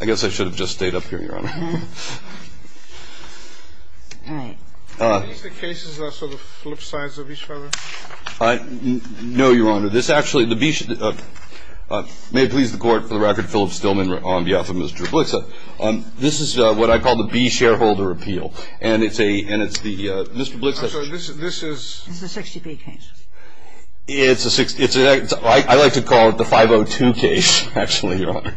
I guess I should have just stayed up here, Your Honor. All right. Are these the cases that are sort of flip sides of each other? No, Your Honor. This actually, the B, may it please the Court, for the record, Philip Stillman on behalf of Mr. Blixseth. This is what I call the B shareholder appeal, and it's the, Mr. Blixseth. I'm sorry, this is... It's the 60B case. It's a 60... I like to call it the 502 case, actually, Your Honor.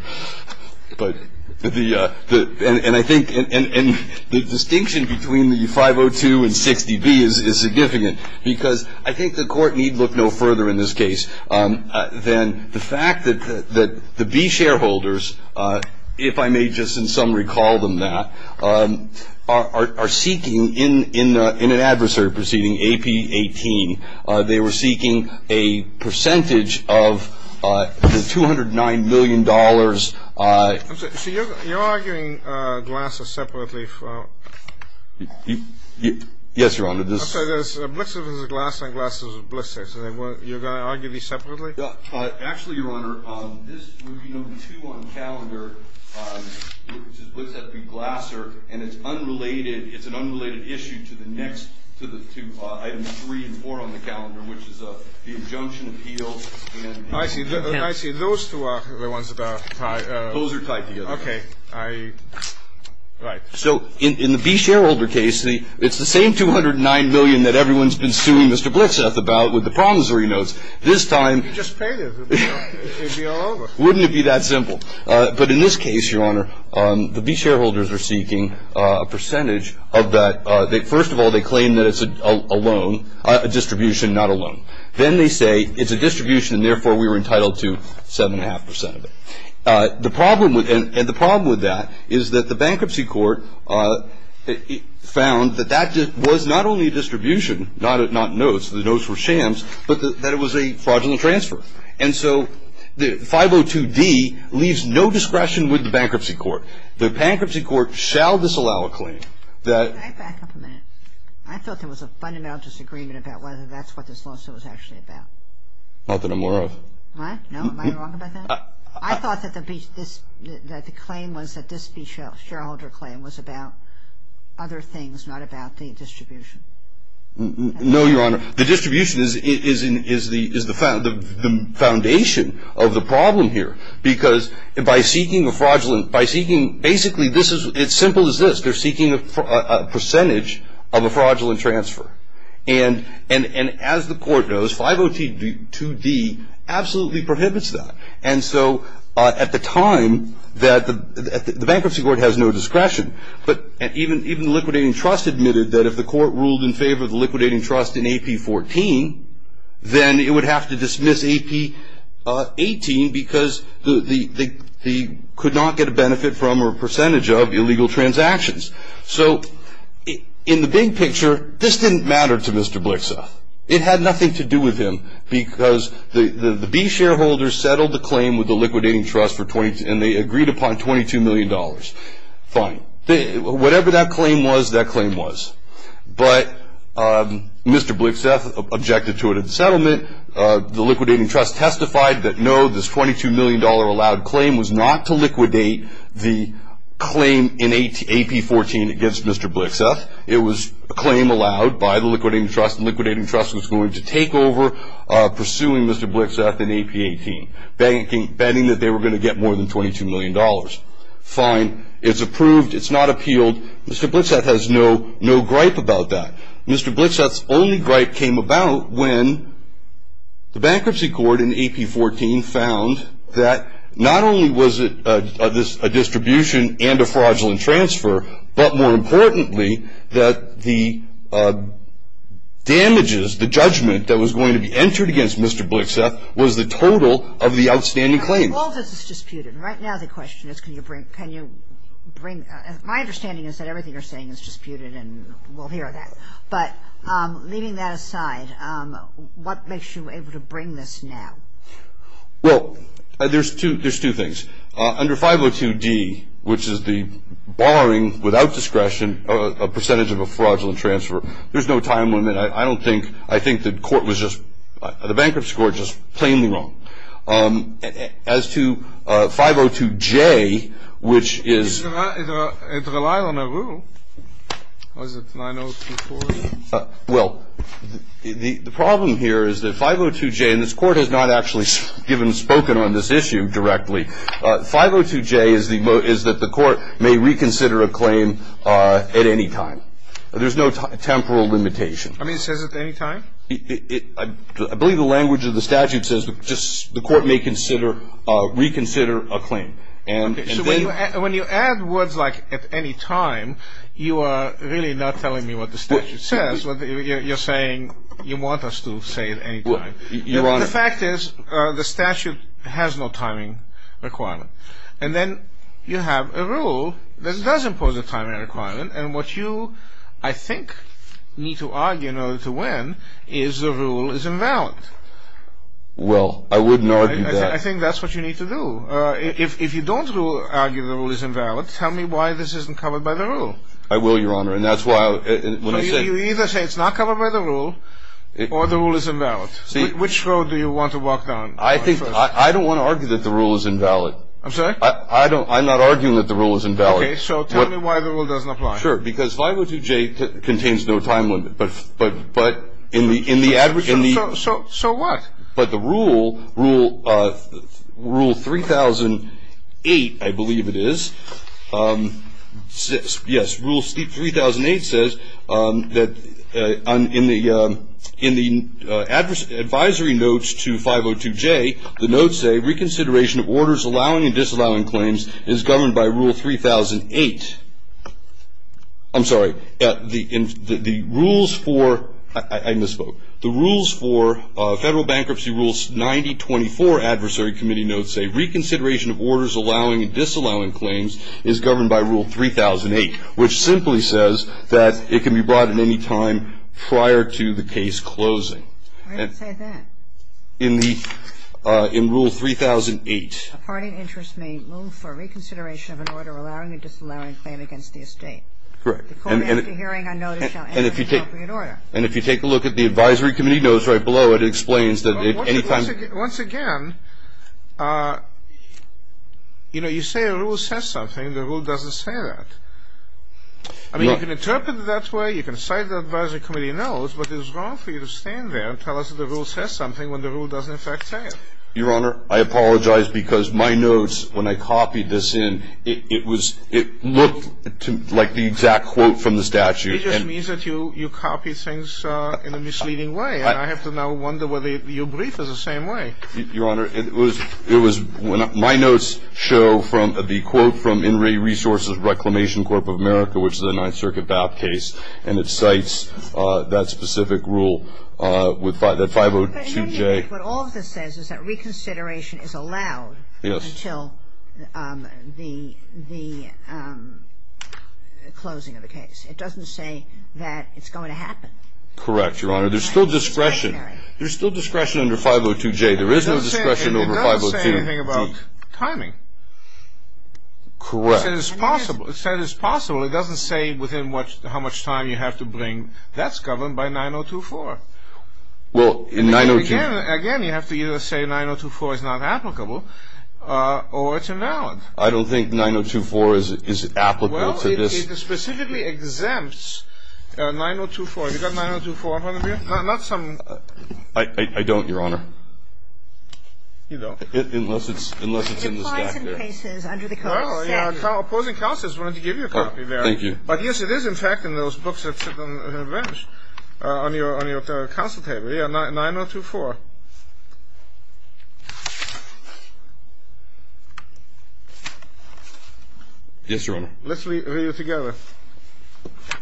But the... And I think the distinction between the 502 and 60B is significant because I think the Court need look no further in this case than the fact that the B shareholders, if I may just in summary call them that, are seeking in an adversary proceeding, AP 18, they were seeking a percentage of the $209 million... I'm sorry, so you're arguing Glasser separately from... Yes, Your Honor, this... I'm sorry, there's Blixseth v. Glasser and Glasser v. Blixseth. You're going to argue these separately? Actually, Your Honor, this would be number two on the calendar, which is Blixseth v. Glasser, and it's unrelated, it's an unrelated issue to the next, to item three and four on the calendar, which is the injunction appeal and... I see. Those two are the ones about... Those are tied together. Okay. Right. So in the B shareholder case, it's the same $209 million that everyone's been suing Mr. Blixseth about with the promissory notes. This time... If you just paid it, it would be all over. Wouldn't it be that simple? But in this case, Your Honor, the B shareholders are seeking a percentage of that. First of all, they claim that it's a loan, a distribution, not a loan. Then they say it's a distribution, and therefore we were entitled to 7.5 percent of it. The problem with that is that the bankruptcy court found that that was not only a distribution, not notes, the notes were shams, but that it was a fraudulent transfer. And so 502D leaves no discretion with the bankruptcy court. The bankruptcy court shall disallow a claim that... Can I back up a minute? I thought there was a fundamental disagreement about whether that's what this lawsuit was actually about. Not that I'm aware of. What? No, am I wrong about that? I thought that the claim was that this B shareholder claim was about other things, not about the distribution. No, Your Honor. The distribution is the foundation of the problem here. Because by seeking a fraudulent... Basically, it's simple as this. They're seeking a percentage of a fraudulent transfer. And as the court knows, 502D absolutely prohibits that. And so at the time, the bankruptcy court has no discretion. But even the liquidating trust admitted that if the court ruled in favor of the liquidating trust in AP14, then it would have to dismiss AP18 because they could not get a benefit from or a percentage of illegal transactions. So in the big picture, this didn't matter to Mr. Blixa. It had nothing to do with him because the B shareholder settled the claim with the liquidating trust and they agreed upon $22 million. Fine. Whatever that claim was, that claim was. But Mr. Blixa objected to it in settlement. The liquidating trust testified that no, this $22 million allowed claim was not to liquidate the claim in AP14 against Mr. Blixa. It was a claim allowed by the liquidating trust, and the liquidating trust was going to take over pursuing Mr. Blixa in AP18, betting that they were going to get more than $22 million. Fine. It's approved. It's not appealed. Mr. Blixa has no gripe about that. Mr. Blixa's only gripe came about when the bankruptcy court in AP14 found that not only was it a distribution and a fraudulent transfer, but more importantly, that the damages, the judgment that was going to be entered against Mr. Blixa was the total of the outstanding claims. Well, all of this is disputed. Right now the question is can you bring – my understanding is that everything you're saying is disputed, and we'll hear that. But leaving that aside, what makes you able to bring this now? Well, there's two things. Under 502D, which is the barring without discretion a percentage of a fraudulent transfer, there's no time limit. I don't think – I think the court was just – the bankruptcy court was just plainly wrong. As to 502J, which is – It relied on a rule. Was it 9024? Well, the problem here is that 502J – and this Court has not actually given – spoken on this issue directly. 502J is the – is that the Court may reconsider a claim at any time. There's no temporal limitation. I mean, it says at any time? I believe the language of the statute says just the court may consider – reconsider a claim. And then – When you add words like at any time, you are really not telling me what the statute says. You're saying you want us to say at any time. Your Honor – The fact is the statute has no timing requirement. And then you have a rule that does impose a timing requirement, and what you, I think, need to argue in order to win is the rule is invalid. Well, I wouldn't argue that. I think that's what you need to do. If you don't argue the rule is invalid, tell me why this isn't covered by the rule. I will, Your Honor. And that's why – So you either say it's not covered by the rule or the rule is invalid. See – Which road do you want to walk down? I think – I don't want to argue that the rule is invalid. I'm sorry? I don't – I'm not arguing that the rule is invalid. Okay. So tell me why the rule doesn't apply. Sure. Because 502J contains no time limit. But in the – in the – So what? But the rule, rule 3008, I believe it is, yes, rule 3008 says that in the advisory notes to 502J, the notes say, reconsideration of orders allowing and disallowing claims is governed by rule 3008. I'm sorry. The rules for – I misspoke. The rules for Federal Bankruptcy Rules 9024 Adversary Committee notes say, reconsideration of orders allowing and disallowing claims is governed by rule 3008, which simply says that it can be brought at any time prior to the case closing. I didn't say that. In the – in rule 3008. A party in interest may move for reconsideration of an order allowing and disallowing a claim against the estate. Correct. The court after hearing a notice shall enter an appropriate order. And if you take a look at the advisory committee notes right below, it explains that at any time – Once again, you know, you say a rule says something. The rule doesn't say that. I mean, you can interpret it that way. You can cite the advisory committee notes. But it is wrong for you to stand there and tell us that the rule says something when the rule doesn't, in fact, say it. Your Honor, I apologize because my notes, when I copied this in, it was – it looked like the exact quote from the statute. It just means that you copied things in a misleading way. And I have to now wonder whether your brief is the same way. Your Honor, it was – it was – my notes show from the quote from In Re Resources Reclamation Corp of America, which is a Ninth Circuit BAP case, and it cites that specific rule with 502J. But what all of this says is that reconsideration is allowed until the closing of the case. It doesn't say that it's going to happen. Correct, Your Honor. There's still discretion. There's still discretion under 502J. There is no discretion over 502D. It doesn't say anything about timing. Correct. It said it's possible. It doesn't say within what – how much time you have to bring. That's governed by 9024. Well, in 902 – Again, you have to either say 9024 is not applicable or it's invalid. I don't think 9024 is applicable to this. Well, it specifically exempts 9024. Have you got 9024 in front of you? Not some – You don't? Unless it's in the statute. Well, opposing counsels wanted to give you a copy there. Thank you. But, yes, it is, in fact, in those books that sit on the bench, on your counsel table. Yeah, 9024. Yes, Your Honor. Let's read it together. Okay.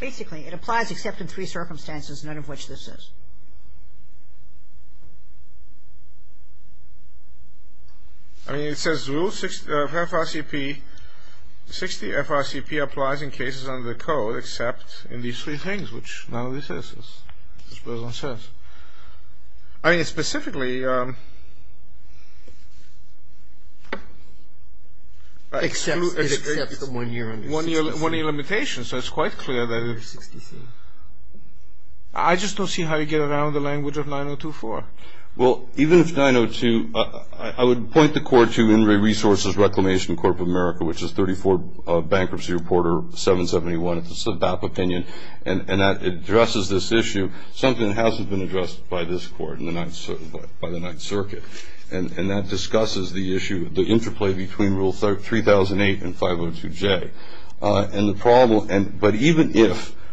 Basically, it applies except in three circumstances, none of which this is. I mean, it says rule 60 of FRCP – 60 FRCP applies in cases under the code except in these three things, which none of this is, as the President says. I mean, it specifically – Excludes – It excepts the one-year limitation. One-year limitation, so it's quite clear that it – Rule 60C. I just don't see how you get around the language of 9024. Well, even if 902 – I would point the court to In re Resources Reclamation Corp of America, which is 34 Bankruptcy Reporter 771. It's a DAP opinion. And that addresses this issue, something that hasn't been addressed by this court in the Ninth – by the Ninth Circuit. And that discusses the issue, the interplay between Rule 3008 and 502J. And the problem – but even if –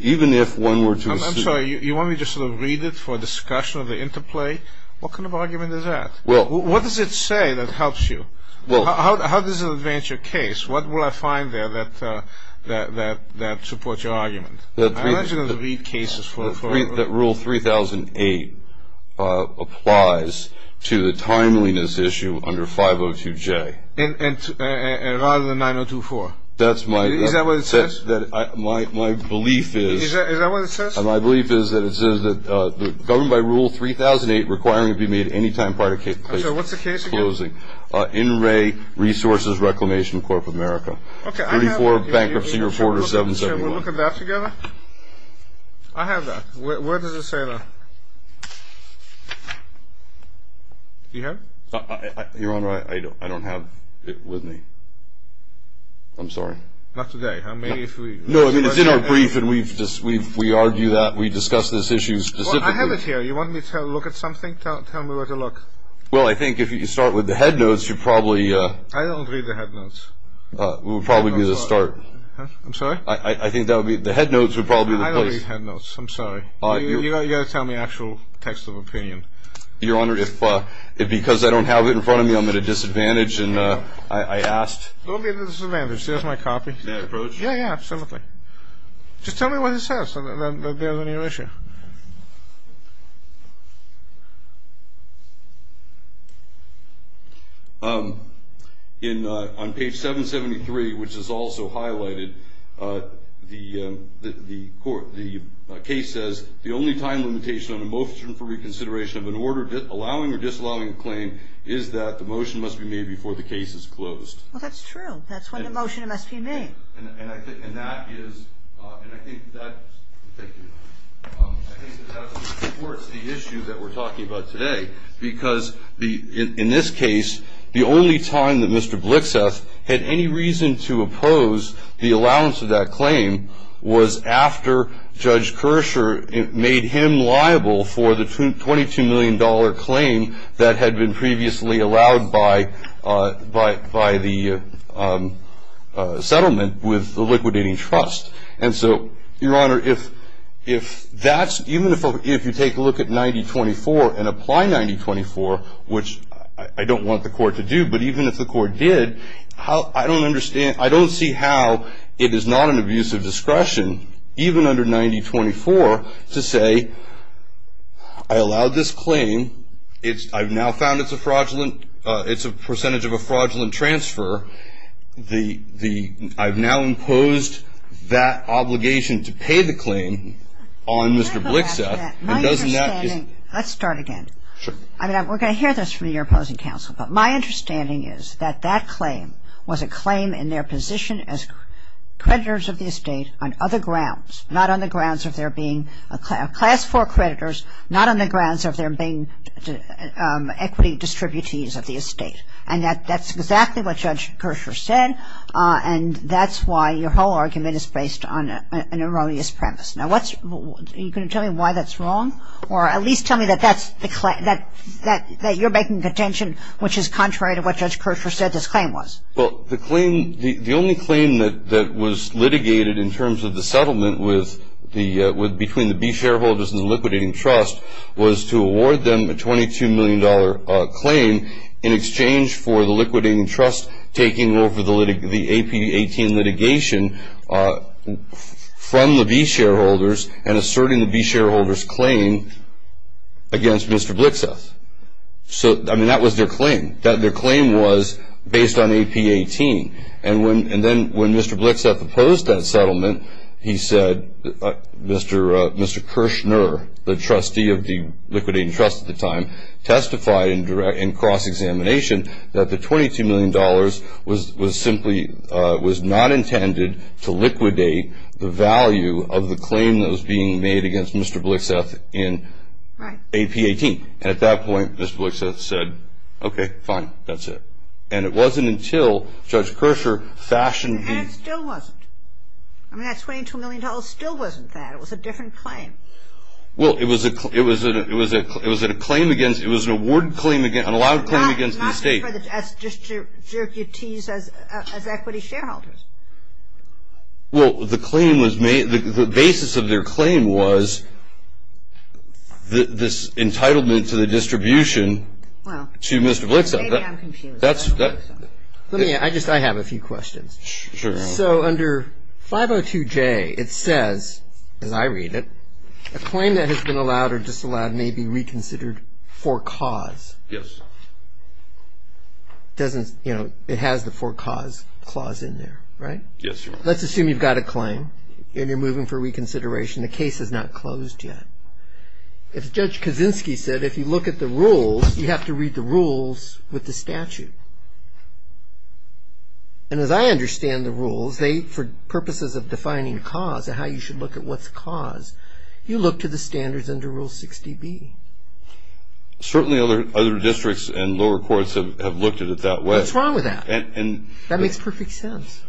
even if one were to – I'm sorry. You want me to sort of read it for discussion of the interplay? What kind of argument is that? Well – What does it say that helps you? Well – How does it advance your case? What will I find there that supports your argument? I'm not going to read cases for – That Rule 3008 applies to the timeliness issue under 502J. And rather than 9024? That's my – Is that what it says? My belief is – Is that what it says? My belief is that it says that the – governed by Rule 3008 requiring it be made any time prior to – I'm sorry. What's the case again? In re Resources Reclamation Corp of America. Okay, I have – 34 Bankruptcy Reporter 771. Can we look at that together? I have that. Where does it say that? Do you have it? Your Honor, I don't have it with me. I'm sorry. Not today. I mean, if we – No, I mean, it's in our brief, and we argue that. We discuss this issue specifically. Well, I have it here. You want me to look at something? Tell me where to look. Well, I think if you start with the headnotes, you probably – I don't read the headnotes. We'll probably need to start. I'm sorry? I think that would be – the headnotes would probably be the place. I don't read the headnotes. I'm sorry. You've got to tell me actual text of opinion. Your Honor, if – because I don't have it in front of me, I'm at a disadvantage, and I asked – Don't be at a disadvantage. There's my copy. Is that approached? Yeah, yeah, absolutely. Just tell me what it says, and then there's a new issue. On page 773, which is also highlighted, the case says, the only time limitation on a motion for reconsideration of an order allowing or disallowing a claim is that the motion must be made before the case is closed. Well, that's true. That's when the motion must be made. And that is – and I think that supports the issue that we're talking about today, because in this case, the only time that Mr. Blixeth had any reason to oppose the allowance of that claim was after Judge Kirscher made him liable for the $22 million claim that had been previously allowed by the settlement. And so, Your Honor, if that's – even if you take a look at 9024 and apply 9024, which I don't want the court to do, but even if the court did, I don't understand – I don't see how it is not an abuse of discretion, even under 9024, to say, I allowed this claim. I've now found it's a fraudulent – it's a percentage of a fraudulent transfer. The – I've now imposed that obligation to pay the claim on Mr. Blixeth, and doesn't that – My understanding – let's start again. Sure. I mean, we're going to hear this from your opposing counsel, but my understanding is that that claim was a claim in their position as creditors of the estate on other grounds, not on the grounds of their being class 4 creditors, not on the grounds of their being equity distributees of the estate. And that's exactly what Judge Kershaw said, and that's why your whole argument is based on an erroneous premise. Now, what's – are you going to tell me why that's wrong? Or at least tell me that that's the – that you're making contention, which is contrary to what Judge Kershaw said this claim was. Well, the claim – the only claim that was litigated in terms of the settlement with the – between the B shareholders and the liquidating trust was to award them a $22 million claim in exchange for the liquidating trust taking over the AP-18 litigation from the B shareholders and asserting the B shareholders' claim against Mr. Blixeth. So, I mean, that was their claim. Their claim was based on AP-18. And then when Mr. Blixeth opposed that settlement, he said – Mr. Kershner, the trustee of the liquidating trust at the time, testified in cross-examination that the $22 million was simply – was not intended to liquidate the value of the claim that was being made against Mr. Blixeth in AP-18. And at that point, Mr. Blixeth said, okay, fine, that's it. And it wasn't until Judge Kershaw fashioned the – And it still wasn't. I mean, that $22 million still wasn't that. It was a different claim. Well, it was a – it was a – it was a claim against – it was an award claim against – an allowed claim against the state. Not just for the – just your duties as equity shareholders. Well, the claim was – the basis of their claim was this entitlement to the distribution to Mr. Blixeth. Well, maybe I'm confused. Let me – I just – I have a few questions. Sure. So under 502J, it says, as I read it, a claim that has been allowed or disallowed may be reconsidered for cause. Yes. Doesn't – you know, it has the for cause clause in there, right? Yes, Your Honor. Let's assume you've got a claim and you're moving for reconsideration. The case is not closed yet. As Judge Kaczynski said, if you look at the rules, you have to read the rules with the statute. And as I understand the rules, they – for purposes of defining cause and how you should look at what's cause, you look to the standards under Rule 60B. Certainly other districts and lower courts have looked at it that way. What's wrong with that? And – and – That makes perfect sense.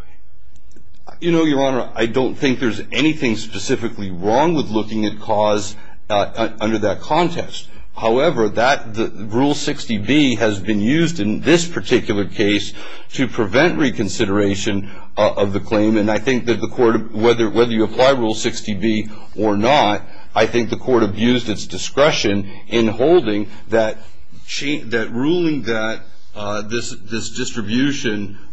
You know, Your Honor, I don't think there's anything specifically wrong with looking at cause under that context. However, that – Rule 60B has been used in this particular case to prevent reconsideration of the claim. And I think that the court – whether you apply Rule 60B or not, I think the court abused its discretion in holding that ruling that this distribution –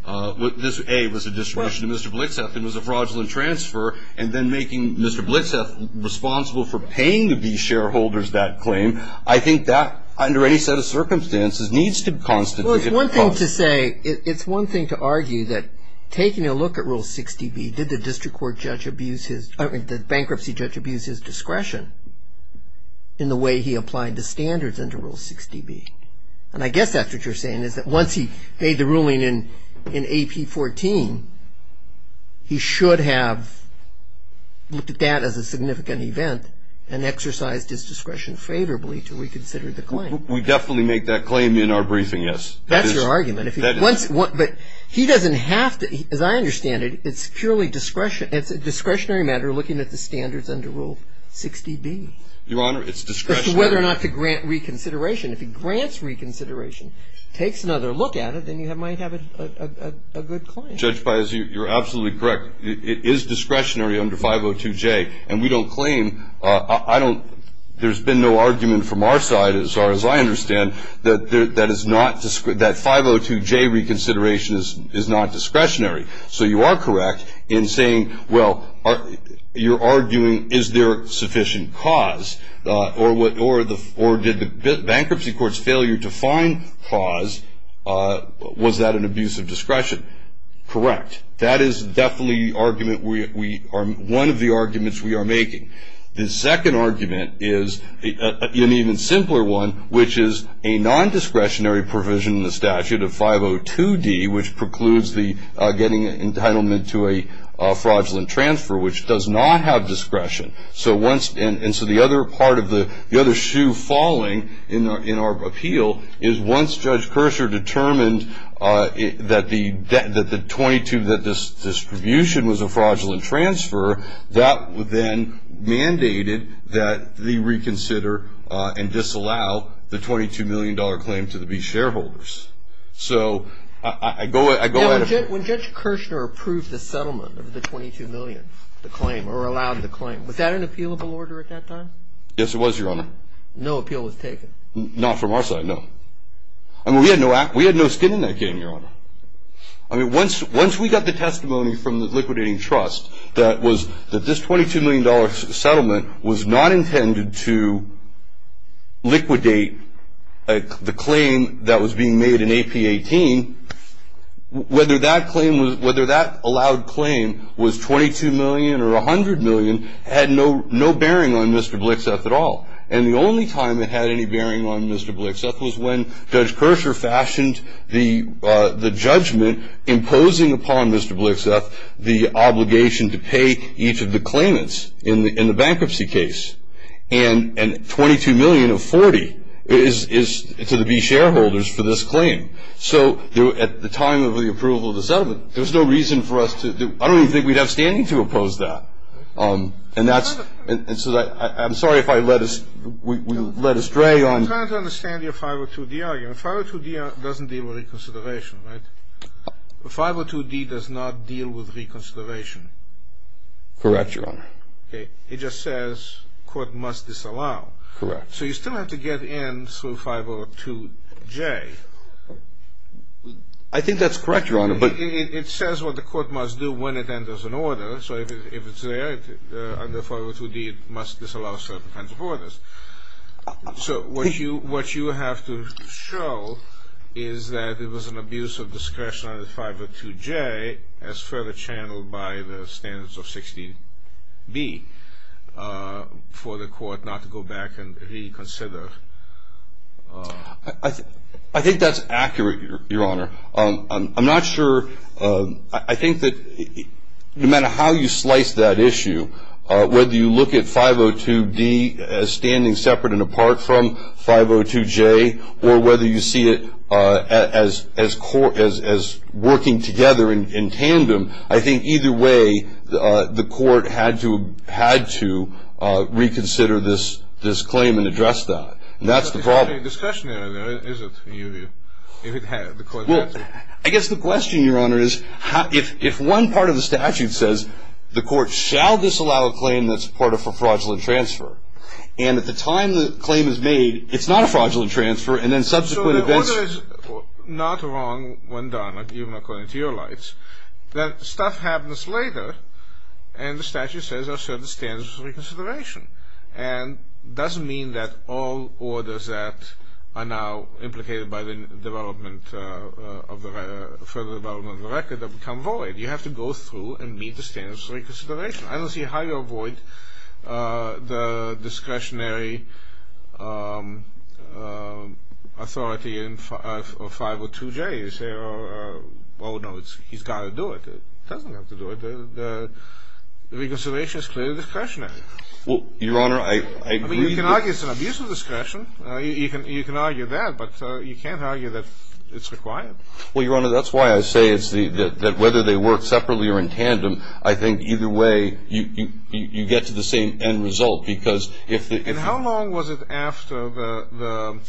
this, A, was a distribution to Mr. Blitzeff and was a fraudulent transfer, and then making Mr. Blitzeff responsible for paying these shareholders that claim. I think that, under any set of circumstances, needs to constantly get paused. Well, it's one thing to say – it's one thing to argue that taking a look at Rule 60B, did the district court judge abuse his – the bankruptcy judge abuse his discretion in the way he applied the standards under Rule 60B? And I guess that's what you're saying, is that once he made the ruling in AP 14, he should have looked at that as a significant event and exercised his discretion favorably to reconsider the claim. We definitely make that claim in our briefing, yes. That's your argument. But he doesn't have to – as I understand it, it's purely discretion – it's a discretionary matter looking at the standards under Rule 60B. Your Honor, it's discretionary. As to whether or not to grant reconsideration. If he grants reconsideration, takes another look at it, then you might have a good claim. Judge Pius, you're absolutely correct. It is discretionary under 502J. And we don't claim – I don't – there's been no argument from our side, as far as I understand, that that is not – that 502J reconsideration is not discretionary. So you are correct in saying, well, you're arguing, is there sufficient cause? Or did the bankruptcy court's failure to find cause, was that an abuse of discretion? Correct. That is definitely the argument we – one of the arguments we are making. The second argument is an even simpler one, which is a nondiscretionary provision in the statute of 502D, which precludes the getting entitlement to a fraudulent transfer, which does not have discretion. And so the other part of the – the other shoe falling in our appeal is, once Judge Kirschner determined that the 22 – that this distribution was a fraudulent transfer, that then mandated that they reconsider and disallow the $22 million claim to the B shareholders. So I go – I go ahead of you. Now, when Judge Kirschner approved the settlement of the $22 million, the claim, or allowed the claim, was that an appealable order at that time? Yes, it was, Your Honor. No appeal was taken? Not from our side, no. I mean, we had no – we had no skin in that game, Your Honor. I mean, once – once we got the testimony from the liquidating trust that was – that this $22 million settlement was not intended to liquidate the claim that was being made in AP18, whether that claim was – whether that allowed claim was $22 million or $100 million had no – no bearing on Mr. Blixeth at all. And the only time it had any bearing on Mr. Blixeth was when Judge Kirschner fashioned the judgment imposing upon Mr. Blixeth the obligation to pay each of the claimants in the bankruptcy case. And $22 million of $40 is to the B shareholders for this claim. So at the time of the approval of the settlement, there was no reason for us to – I don't even think we'd have standing to oppose that. And that's – and so I'm sorry if I led us – we led astray on – I'm trying to understand your 502D argument. 502D doesn't deal with reconsideration, right? 502D does not deal with reconsideration. Correct, Your Honor. Okay. It just says court must disallow. Correct. So you still have to get in through 502J. I think that's correct, Your Honor, but – under 502D it must disallow certain kinds of orders. So what you have to show is that it was an abuse of discretion under 502J as further channeled by the standards of 16B for the court not to go back and reconsider. I think that's accurate, Your Honor. I'm not sure – I think that no matter how you slice that issue, whether you look at 502D as standing separate and apart from 502J or whether you see it as working together in tandem, I think either way the court had to reconsider this claim and address that. That's the problem. It's not a discussion area, is it, in your view, if the court had to? I guess the question, Your Honor, is if one part of the statute says the court shall disallow a claim that's part of a fraudulent transfer and at the time the claim is made it's not a fraudulent transfer and then subsequent events – So the order is not wrong when done, even according to your lights, that stuff happens later and the statute says there are certain standards of reconsideration and it doesn't mean that all orders that are now implicated by the further development of the record have become void. You have to go through and meet the standards of reconsideration. I don't see how you avoid the discretionary authority in 502J. You say, oh no, he's got to do it. He doesn't have to do it. The reconsideration is clearly discretionary. Well, Your Honor, I agree – I mean, you can argue it's an abuse of discretion. You can argue that, but you can't argue that it's required. Well, Your Honor, that's why I say that whether they work separately or in tandem, I think either way you get to the same end result because if – And how long was it after the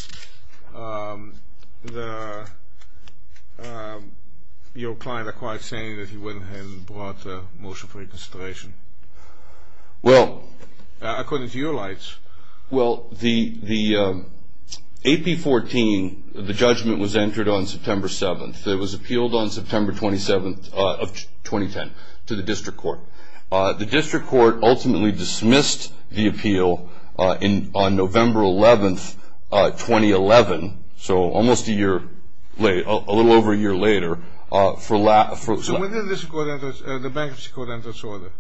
– your client acquired saying that he went ahead and brought a motion for reconsideration? Well – According to your lights. Well, the AP14, the judgment was entered on September 7th. It was appealed on September 27th of 2010 to the district court. The district court ultimately dismissed the appeal on November 11th, 2011, so almost a year later, a little over a year later. So when did the bankruptcy court enter its order?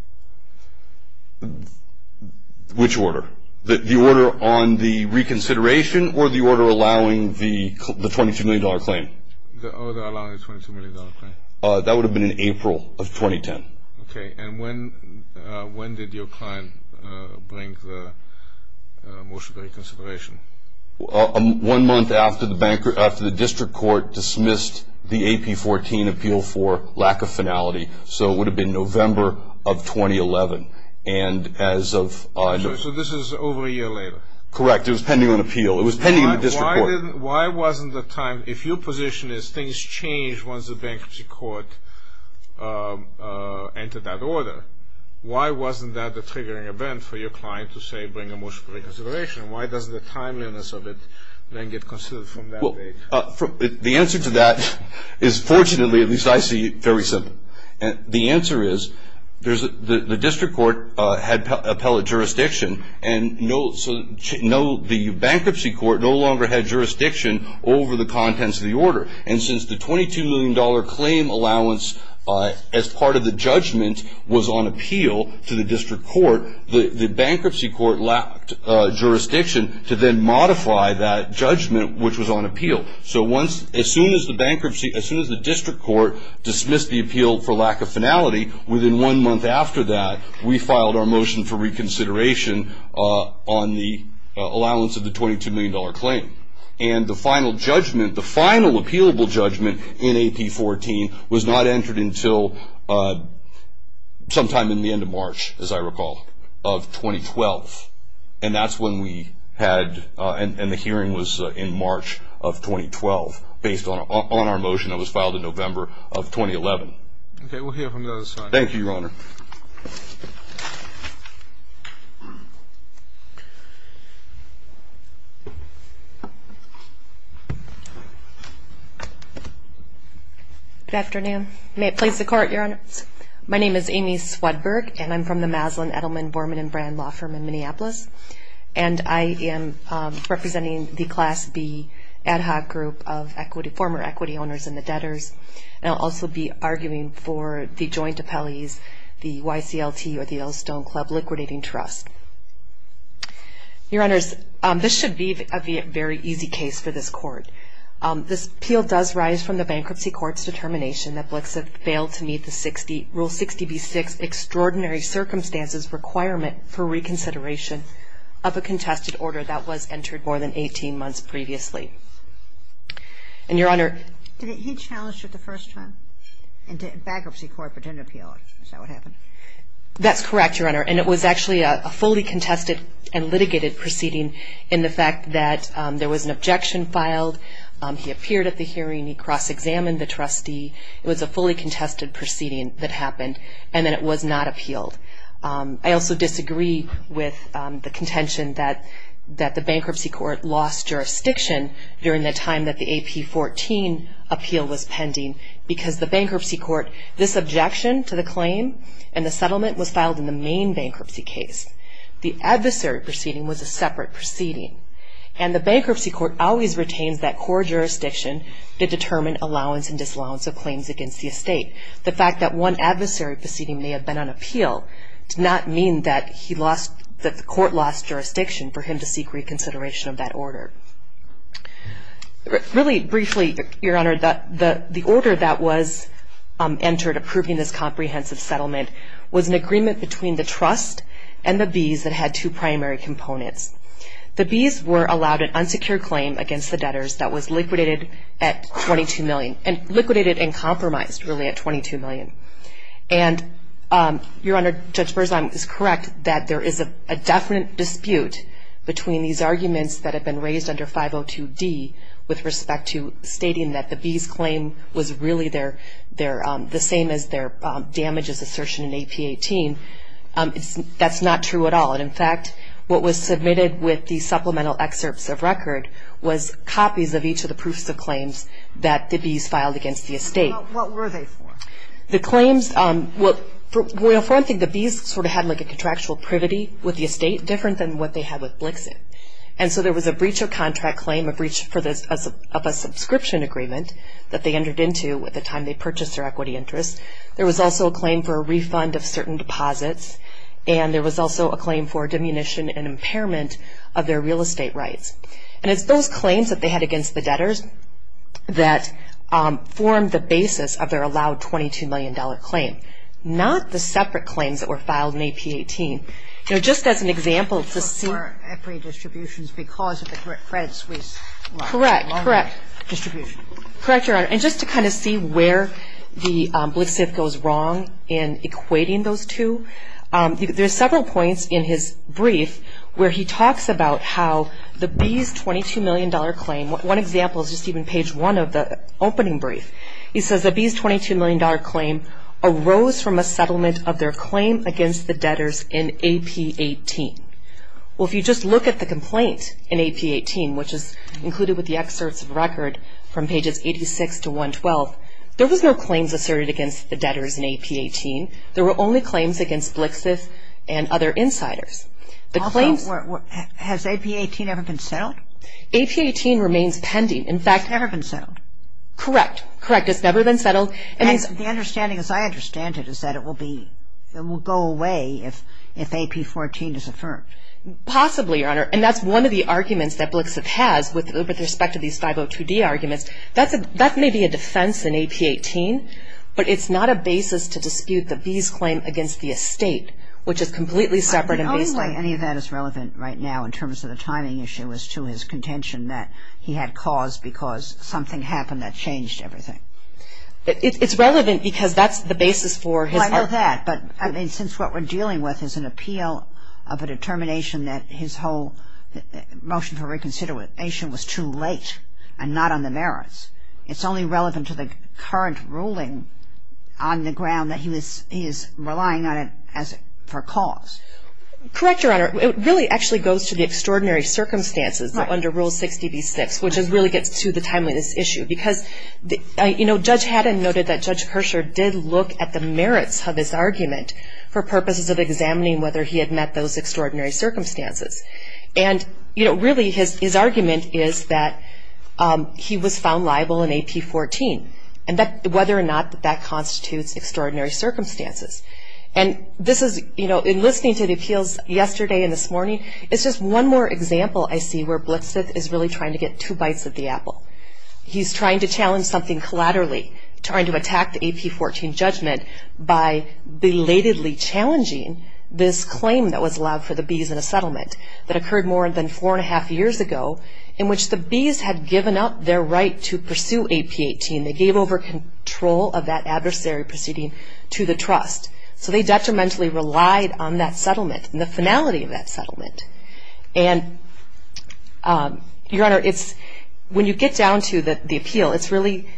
Which order? The order on the reconsideration or the order allowing the $22 million claim? The order allowing the $22 million claim. That would have been in April of 2010. Okay. And when did your client bring the motion for reconsideration? One month after the district court dismissed the AP14 appeal for lack of finality, so it would have been November of 2011. And as of – So this is over a year later? Correct. It was pending on appeal. It was pending on the district court. Why wasn't the time – if your position is things change once the bankruptcy court entered that order, why wasn't that the triggering event for your client to say bring a motion for reconsideration? Why doesn't the timeliness of it then get considered from that date? The answer to that is fortunately, at least I see, very simple. The answer is the district court had appellate jurisdiction, and the bankruptcy court no longer had jurisdiction over the contents of the order. And since the $22 million claim allowance as part of the judgment was on appeal to the district court, the bankruptcy court lacked jurisdiction to then modify that judgment, which was on appeal. So as soon as the district court dismissed the appeal for lack of finality, within one month after that we filed our motion for reconsideration on the allowance of the $22 million claim. And the final judgment, the final appealable judgment in AP14, was not entered until sometime in the end of March, as I recall, of 2012. And that's when we had – and the hearing was in March of 2012, based on our motion that was filed in November of 2011. Okay, we'll hear from the other side. Thank you, Your Honor. Good afternoon. May it please the Court, Your Honor. My name is Amy Swedberg, and I'm from the Maslin, Edelman, Borman & Brand Law Firm in Minneapolis. And I am representing the Class B ad hoc group of former equity owners and the debtors. And I'll also be arguing for the joint appellees, the YCLT or the Yellowstone Club Liquidating Trust. Your Honors, this should be a very easy case for this Court. This appeal does rise from the Bankruptcy Court's determination that Blix have failed to meet the Rule 60b-6 Extraordinary Circumstances Requirement for reconsideration of a contested order that was entered more than 18 months previously. And, Your Honor – Did he challenge it the first time? In Bankruptcy Court, but didn't appeal it. Is that what happened? That's correct, Your Honor. And it was actually a fully contested and litigated proceeding in the fact that there was an objection filed. He appeared at the hearing. He cross-examined the trustee. It was a fully contested proceeding that happened. And then it was not appealed. I also disagree with the contention that the Bankruptcy Court lost jurisdiction during the time that the AP-14 appeal was pending, because the Bankruptcy Court, this objection to the claim and the settlement was filed in the main bankruptcy case. The adversary proceeding was a separate proceeding. And the Bankruptcy Court always retains that core jurisdiction to determine allowance and disallowance of claims against the estate. The fact that one adversary proceeding may have been on appeal does not mean that the Court lost jurisdiction for him to seek reconsideration of that order. Really briefly, Your Honor, the order that was entered approving this comprehensive settlement was an agreement between the trust and the Bs that had two primary components. The Bs were allowed an unsecured claim against the debtors that was liquidated at $22 million, and liquidated and compromised, really, at $22 million. And, Your Honor, Judge Berzahn is correct that there is a definite dispute between these arguments that have been raised under 502D with respect to stating that the Bs' claim was really the same as their damages assertion in AP-18. That's not true at all. And, in fact, what was submitted with the supplemental excerpts of record was copies of each of the proofs of claims that the Bs filed against the estate. What were they for? The claims, well, for one thing, the Bs sort of had like a contractual privity with the estate different than what they had with Blixit. And so there was a breach of contract claim, a breach of a subscription agreement that they entered into at the time they purchased their equity interest. There was also a claim for a refund of certain deposits, and there was also a claim for diminution and impairment of their real estate rights. And it's those claims that they had against the debtors that formed the basis of their allowed $22 million claim, not the separate claims that were filed in AP-18. You know, just as an example to see. For equity distributions because of the Credit Suisse. Correct, correct. Distribution. Correct, Your Honor. And just to kind of see where the Blixit goes wrong in equating those two, there are several points in his brief where he talks about how the Bs' $22 million claim, one example is just even page one of the opening brief. He says the Bs' $22 million claim arose from a settlement of their claim against the debtors in AP-18. Well, if you just look at the complaint in AP-18, which is included with the excerpts of the record from pages 86 to 112, there was no claims asserted against the debtors in AP-18. There were only claims against Blixit and other insiders. Has AP-18 ever been settled? AP-18 remains pending. In fact. Never been settled? Correct, correct. It's never been settled. The understanding as I understand it is that it will go away if AP-14 is affirmed. Possibly, Your Honor, and that's one of the arguments that Blixit has with respect to these 502D arguments. That may be a defense in AP-18, but it's not a basis to dispute the Bs' claim against the estate, which is completely separate and based on. I don't know why any of that is relevant right now in terms of the timing issue as to his contention that he had cause because something happened that changed everything. It's relevant because that's the basis for his argument. Well, I know that. But, I mean, since what we're dealing with is an appeal of a determination that his whole motion for reconsideration was too late and not on the merits, it's only relevant to the current ruling on the ground that he is relying on it for cause. Correct, Your Honor. It really actually goes to the extraordinary circumstances under Rule 60B-6, which really gets to the timeliness issue. Because, you know, Judge Haddon noted that Judge Kershaw did look at the merits of his argument for purposes of examining whether he had met those extraordinary circumstances. And, you know, really his argument is that he was found liable in AP-14, and whether or not that constitutes extraordinary circumstances. And this is, you know, in listening to the appeals yesterday and this morning, it's just one more example I see where Blixit is really trying to get two bites of the apple. He's trying to challenge something collaterally, trying to attack the AP-14 judgment by belatedly challenging this claim that was allowed for the bees in a settlement that occurred more than four and a half years ago, in which the bees had given up their right to pursue AP-18. They gave over control of that adversary proceeding to the trust. So they detrimentally relied on that settlement and the finality of that settlement. And, Your Honor, when you get down to the appeal, it's really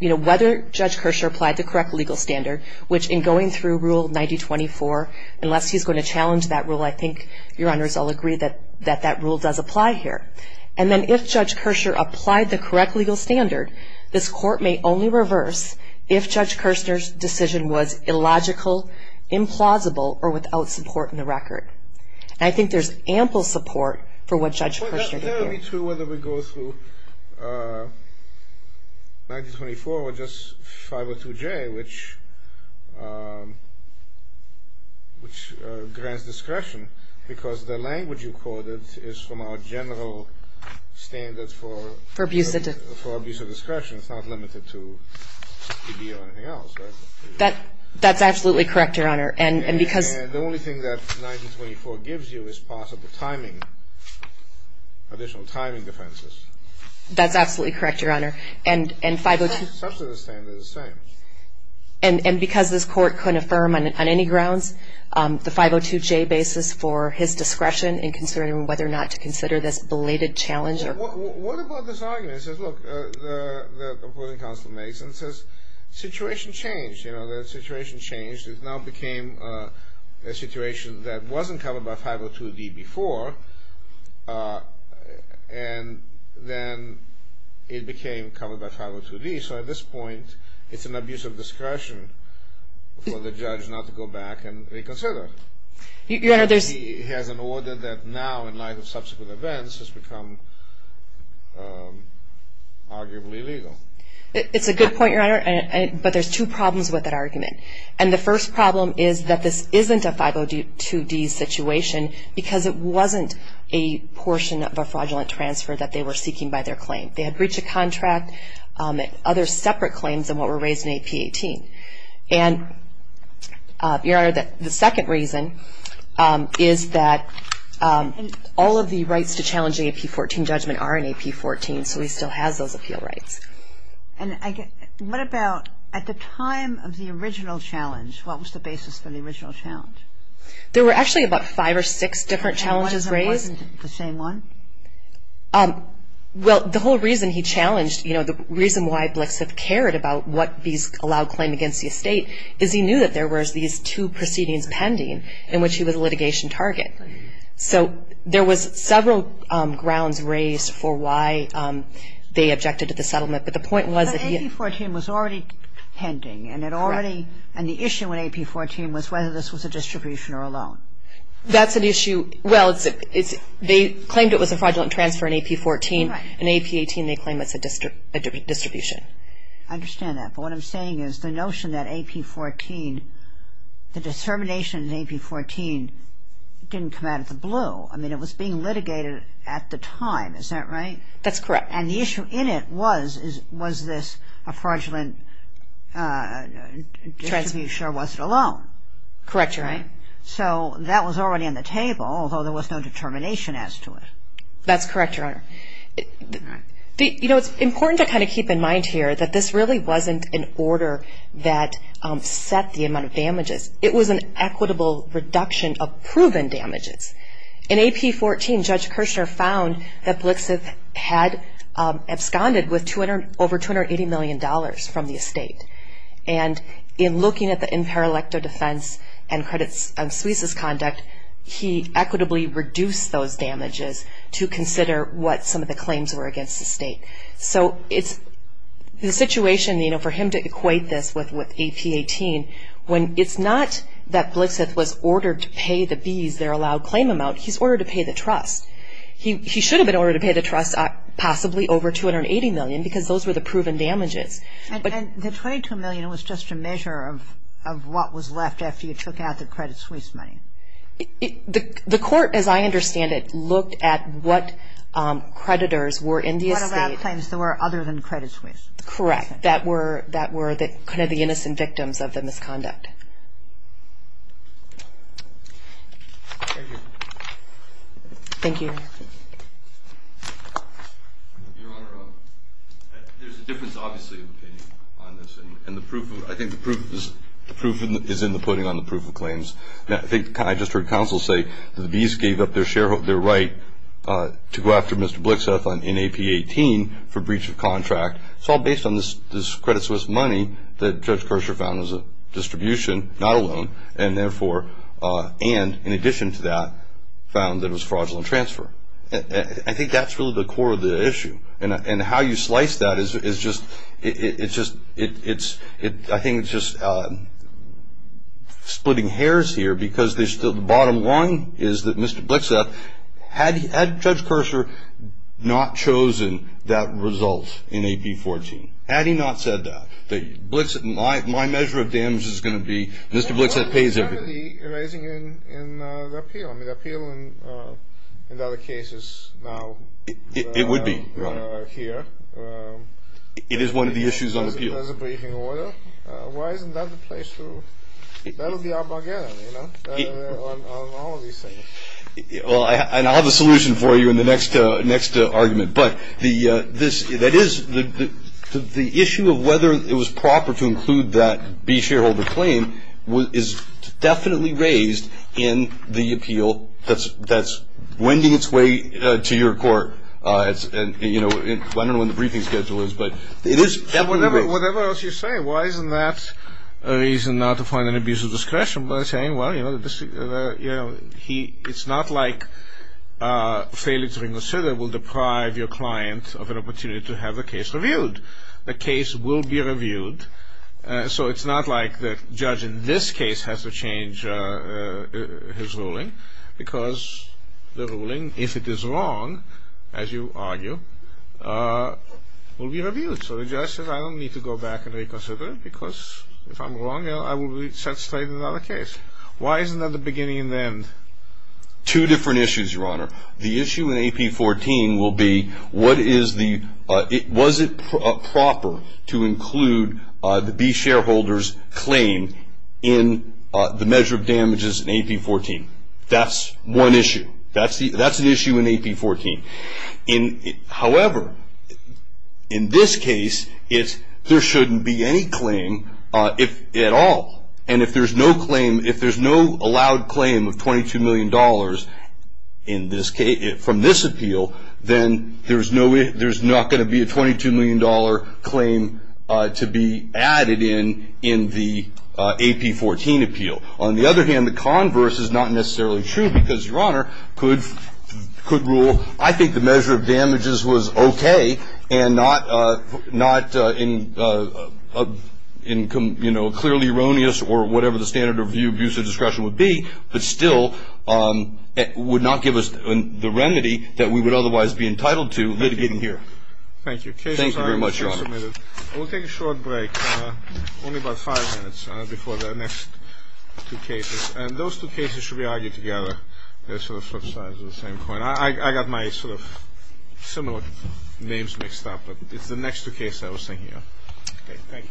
whether Judge Kershaw applied the correct legal standard, which in going through Rule 9024, unless he's going to challenge that rule, I think Your Honors all agree that that rule does apply here. And then if Judge Kershaw applied the correct legal standard, this Court may only reverse if Judge Kershaw's decision was illogical, implausible, or without support in the record. And I think there's ample support for what Judge Kershaw did here. Well, that would be true whether we go through 9024 or just 502J, which grants discretion because the language you quoted is from our general standards for abuse of discretion. It's not limited to 60B or anything else, right? That's absolutely correct, Your Honor. And because The only thing that 9024 gives you is possible timing, additional timing defenses. That's absolutely correct, Your Honor. And 502 Substance standard is the same. And because this Court couldn't affirm on any grounds the 502J basis for his discretion in considering whether or not to consider this belated challenge or What about this argument? It says, look, the opposing counsel makes and says, situation changed. You know, the situation changed. It now became a situation that wasn't covered by 502D before, and then it became covered by 502D. So at this point, it's an abuse of discretion for the judge not to go back and reconsider. Your Honor, there's He has an order that now, in light of subsequent events, has become arguably illegal. It's a good point, Your Honor, but there's two problems with that argument. And the first problem is that this isn't a 502D situation because it wasn't a portion of a fraudulent transfer that they were seeking by their claim. They had breached a contract, other separate claims than what were raised in AP18. And, Your Honor, the second reason is that all of the rights to challenge the AP14 judgment are in AP14, so he still has those appeal rights. And what about at the time of the original challenge, what was the basis for the original challenge? There were actually about five or six different challenges raised. And one of them wasn't the same one? Well, the whole reason he challenged, you know, the reason why Blix had cared about what these allowed claim against the estate is he knew that there was these two proceedings pending in which he was a litigation target. So there was several grounds raised for why they objected to the settlement, but the point was that he had... But AP14 was already pending, and it already... Correct. And the issue in AP14 was whether this was a distribution or a loan. That's an issue. Well, they claimed it was a fraudulent transfer in AP14. Right. In AP18, they claim it's a distribution. I understand that, but what I'm saying is the notion that AP14, the determination in AP14 didn't come out of the blue. I mean, it was being litigated at the time. Is that right? That's correct. And the issue in it was, was this a fraudulent distribution or was it a loan? Correct, Your Honor. So that was already on the table, although there was no determination as to it. That's correct, Your Honor. You know, it's important to kind of keep in mind here that this really wasn't an order that set the amount of damages. It was an equitable reduction of proven damages. In AP14, Judge Kirchner found that Blixith had absconded with over $280 million from the estate. And in looking at the imperilecto defense and credits of Suiza's conduct, he equitably reduced those damages to consider what some of the claims were against the state. So it's the situation, you know, for him to equate this with AP18, when it's not that Blixith was ordered to pay the B's, their allowed claim amount, he's ordered to pay the trust. He should have been ordered to pay the trust possibly over $280 million because those were the proven damages. And the $22 million was just a measure of what was left after you took out the credit Suiza money. The court, as I understand it, looked at what creditors were in the estate. The claims that were other than credit Suiza. Correct. That were kind of the innocent victims of the misconduct. Thank you. Thank you. Your Honor, there's a difference, obviously, in the opinion on this, and I think the proof is in the putting on the proof of claims. I think I just heard counsel say that the B's gave up their right to go after Mr. Blixith in AP18 for breach of contract. It's all based on this credit Suiza money that Judge Kercher found was a distribution, not a loan, and therefore, and in addition to that, found that it was fraudulent transfer. I think that's really the core of the issue. And how you slice that is just, it's just, I think it's just splitting hairs here because there's still the bottom line is that Mr. Blixith, had Judge Kercher not chosen that result in AP14, had he not said that, that my measure of damage is going to be Mr. Blixith pays everything. Well, what's the penalty in the appeal? I mean, the appeal in other cases now. It would be, Your Honor. Here. It is one of the issues on appeal. There's a briefing order. Why isn't that the place to, that would be our bargain, you know, on all of these things. Well, and I'll have a solution for you in the next argument. But the issue of whether it was proper to include that B shareholder claim is definitely raised in the appeal that's wending its way to your court. And, you know, I don't know when the briefing schedule is, but it is definitely raised. Whatever else you say, why isn't that a reason not to find an abuse of discretion by saying, well, you know, it's not like failing to reconsider will deprive your client of an opportunity to have a case reviewed. The case will be reviewed. So it's not like the judge in this case has to change his ruling because the ruling, if it is wrong, as you argue, will be reviewed. So the judge says, I don't need to go back and reconsider it because if I'm wrong, I will be set straight in another case. Why isn't that the beginning and the end? Two different issues, Your Honor. The issue in AP14 will be what is the, was it proper to include the B shareholder's claim in the measure of damages in AP14. That's one issue. That's an issue in AP14. However, in this case, there shouldn't be any claim at all. And if there's no claim, if there's no allowed claim of $22 million from this appeal, then there's not going to be a $22 million claim to be added in in the AP14 appeal. On the other hand, the converse is not necessarily true because, Your Honor, could rule, I think the measure of damages was okay and not in clearly erroneous or whatever the standard of abuse of discretion would be, but still would not give us the remedy that we would otherwise be entitled to litigating here. Thank you. Thank you very much, Your Honor. We'll take a short break, only about five minutes before the next two cases. And those two cases should be argued together. They're sort of flip sides of the same coin. I got my sort of similar names mixed up, but it's the next two cases I was thinking of. Okay, thank you.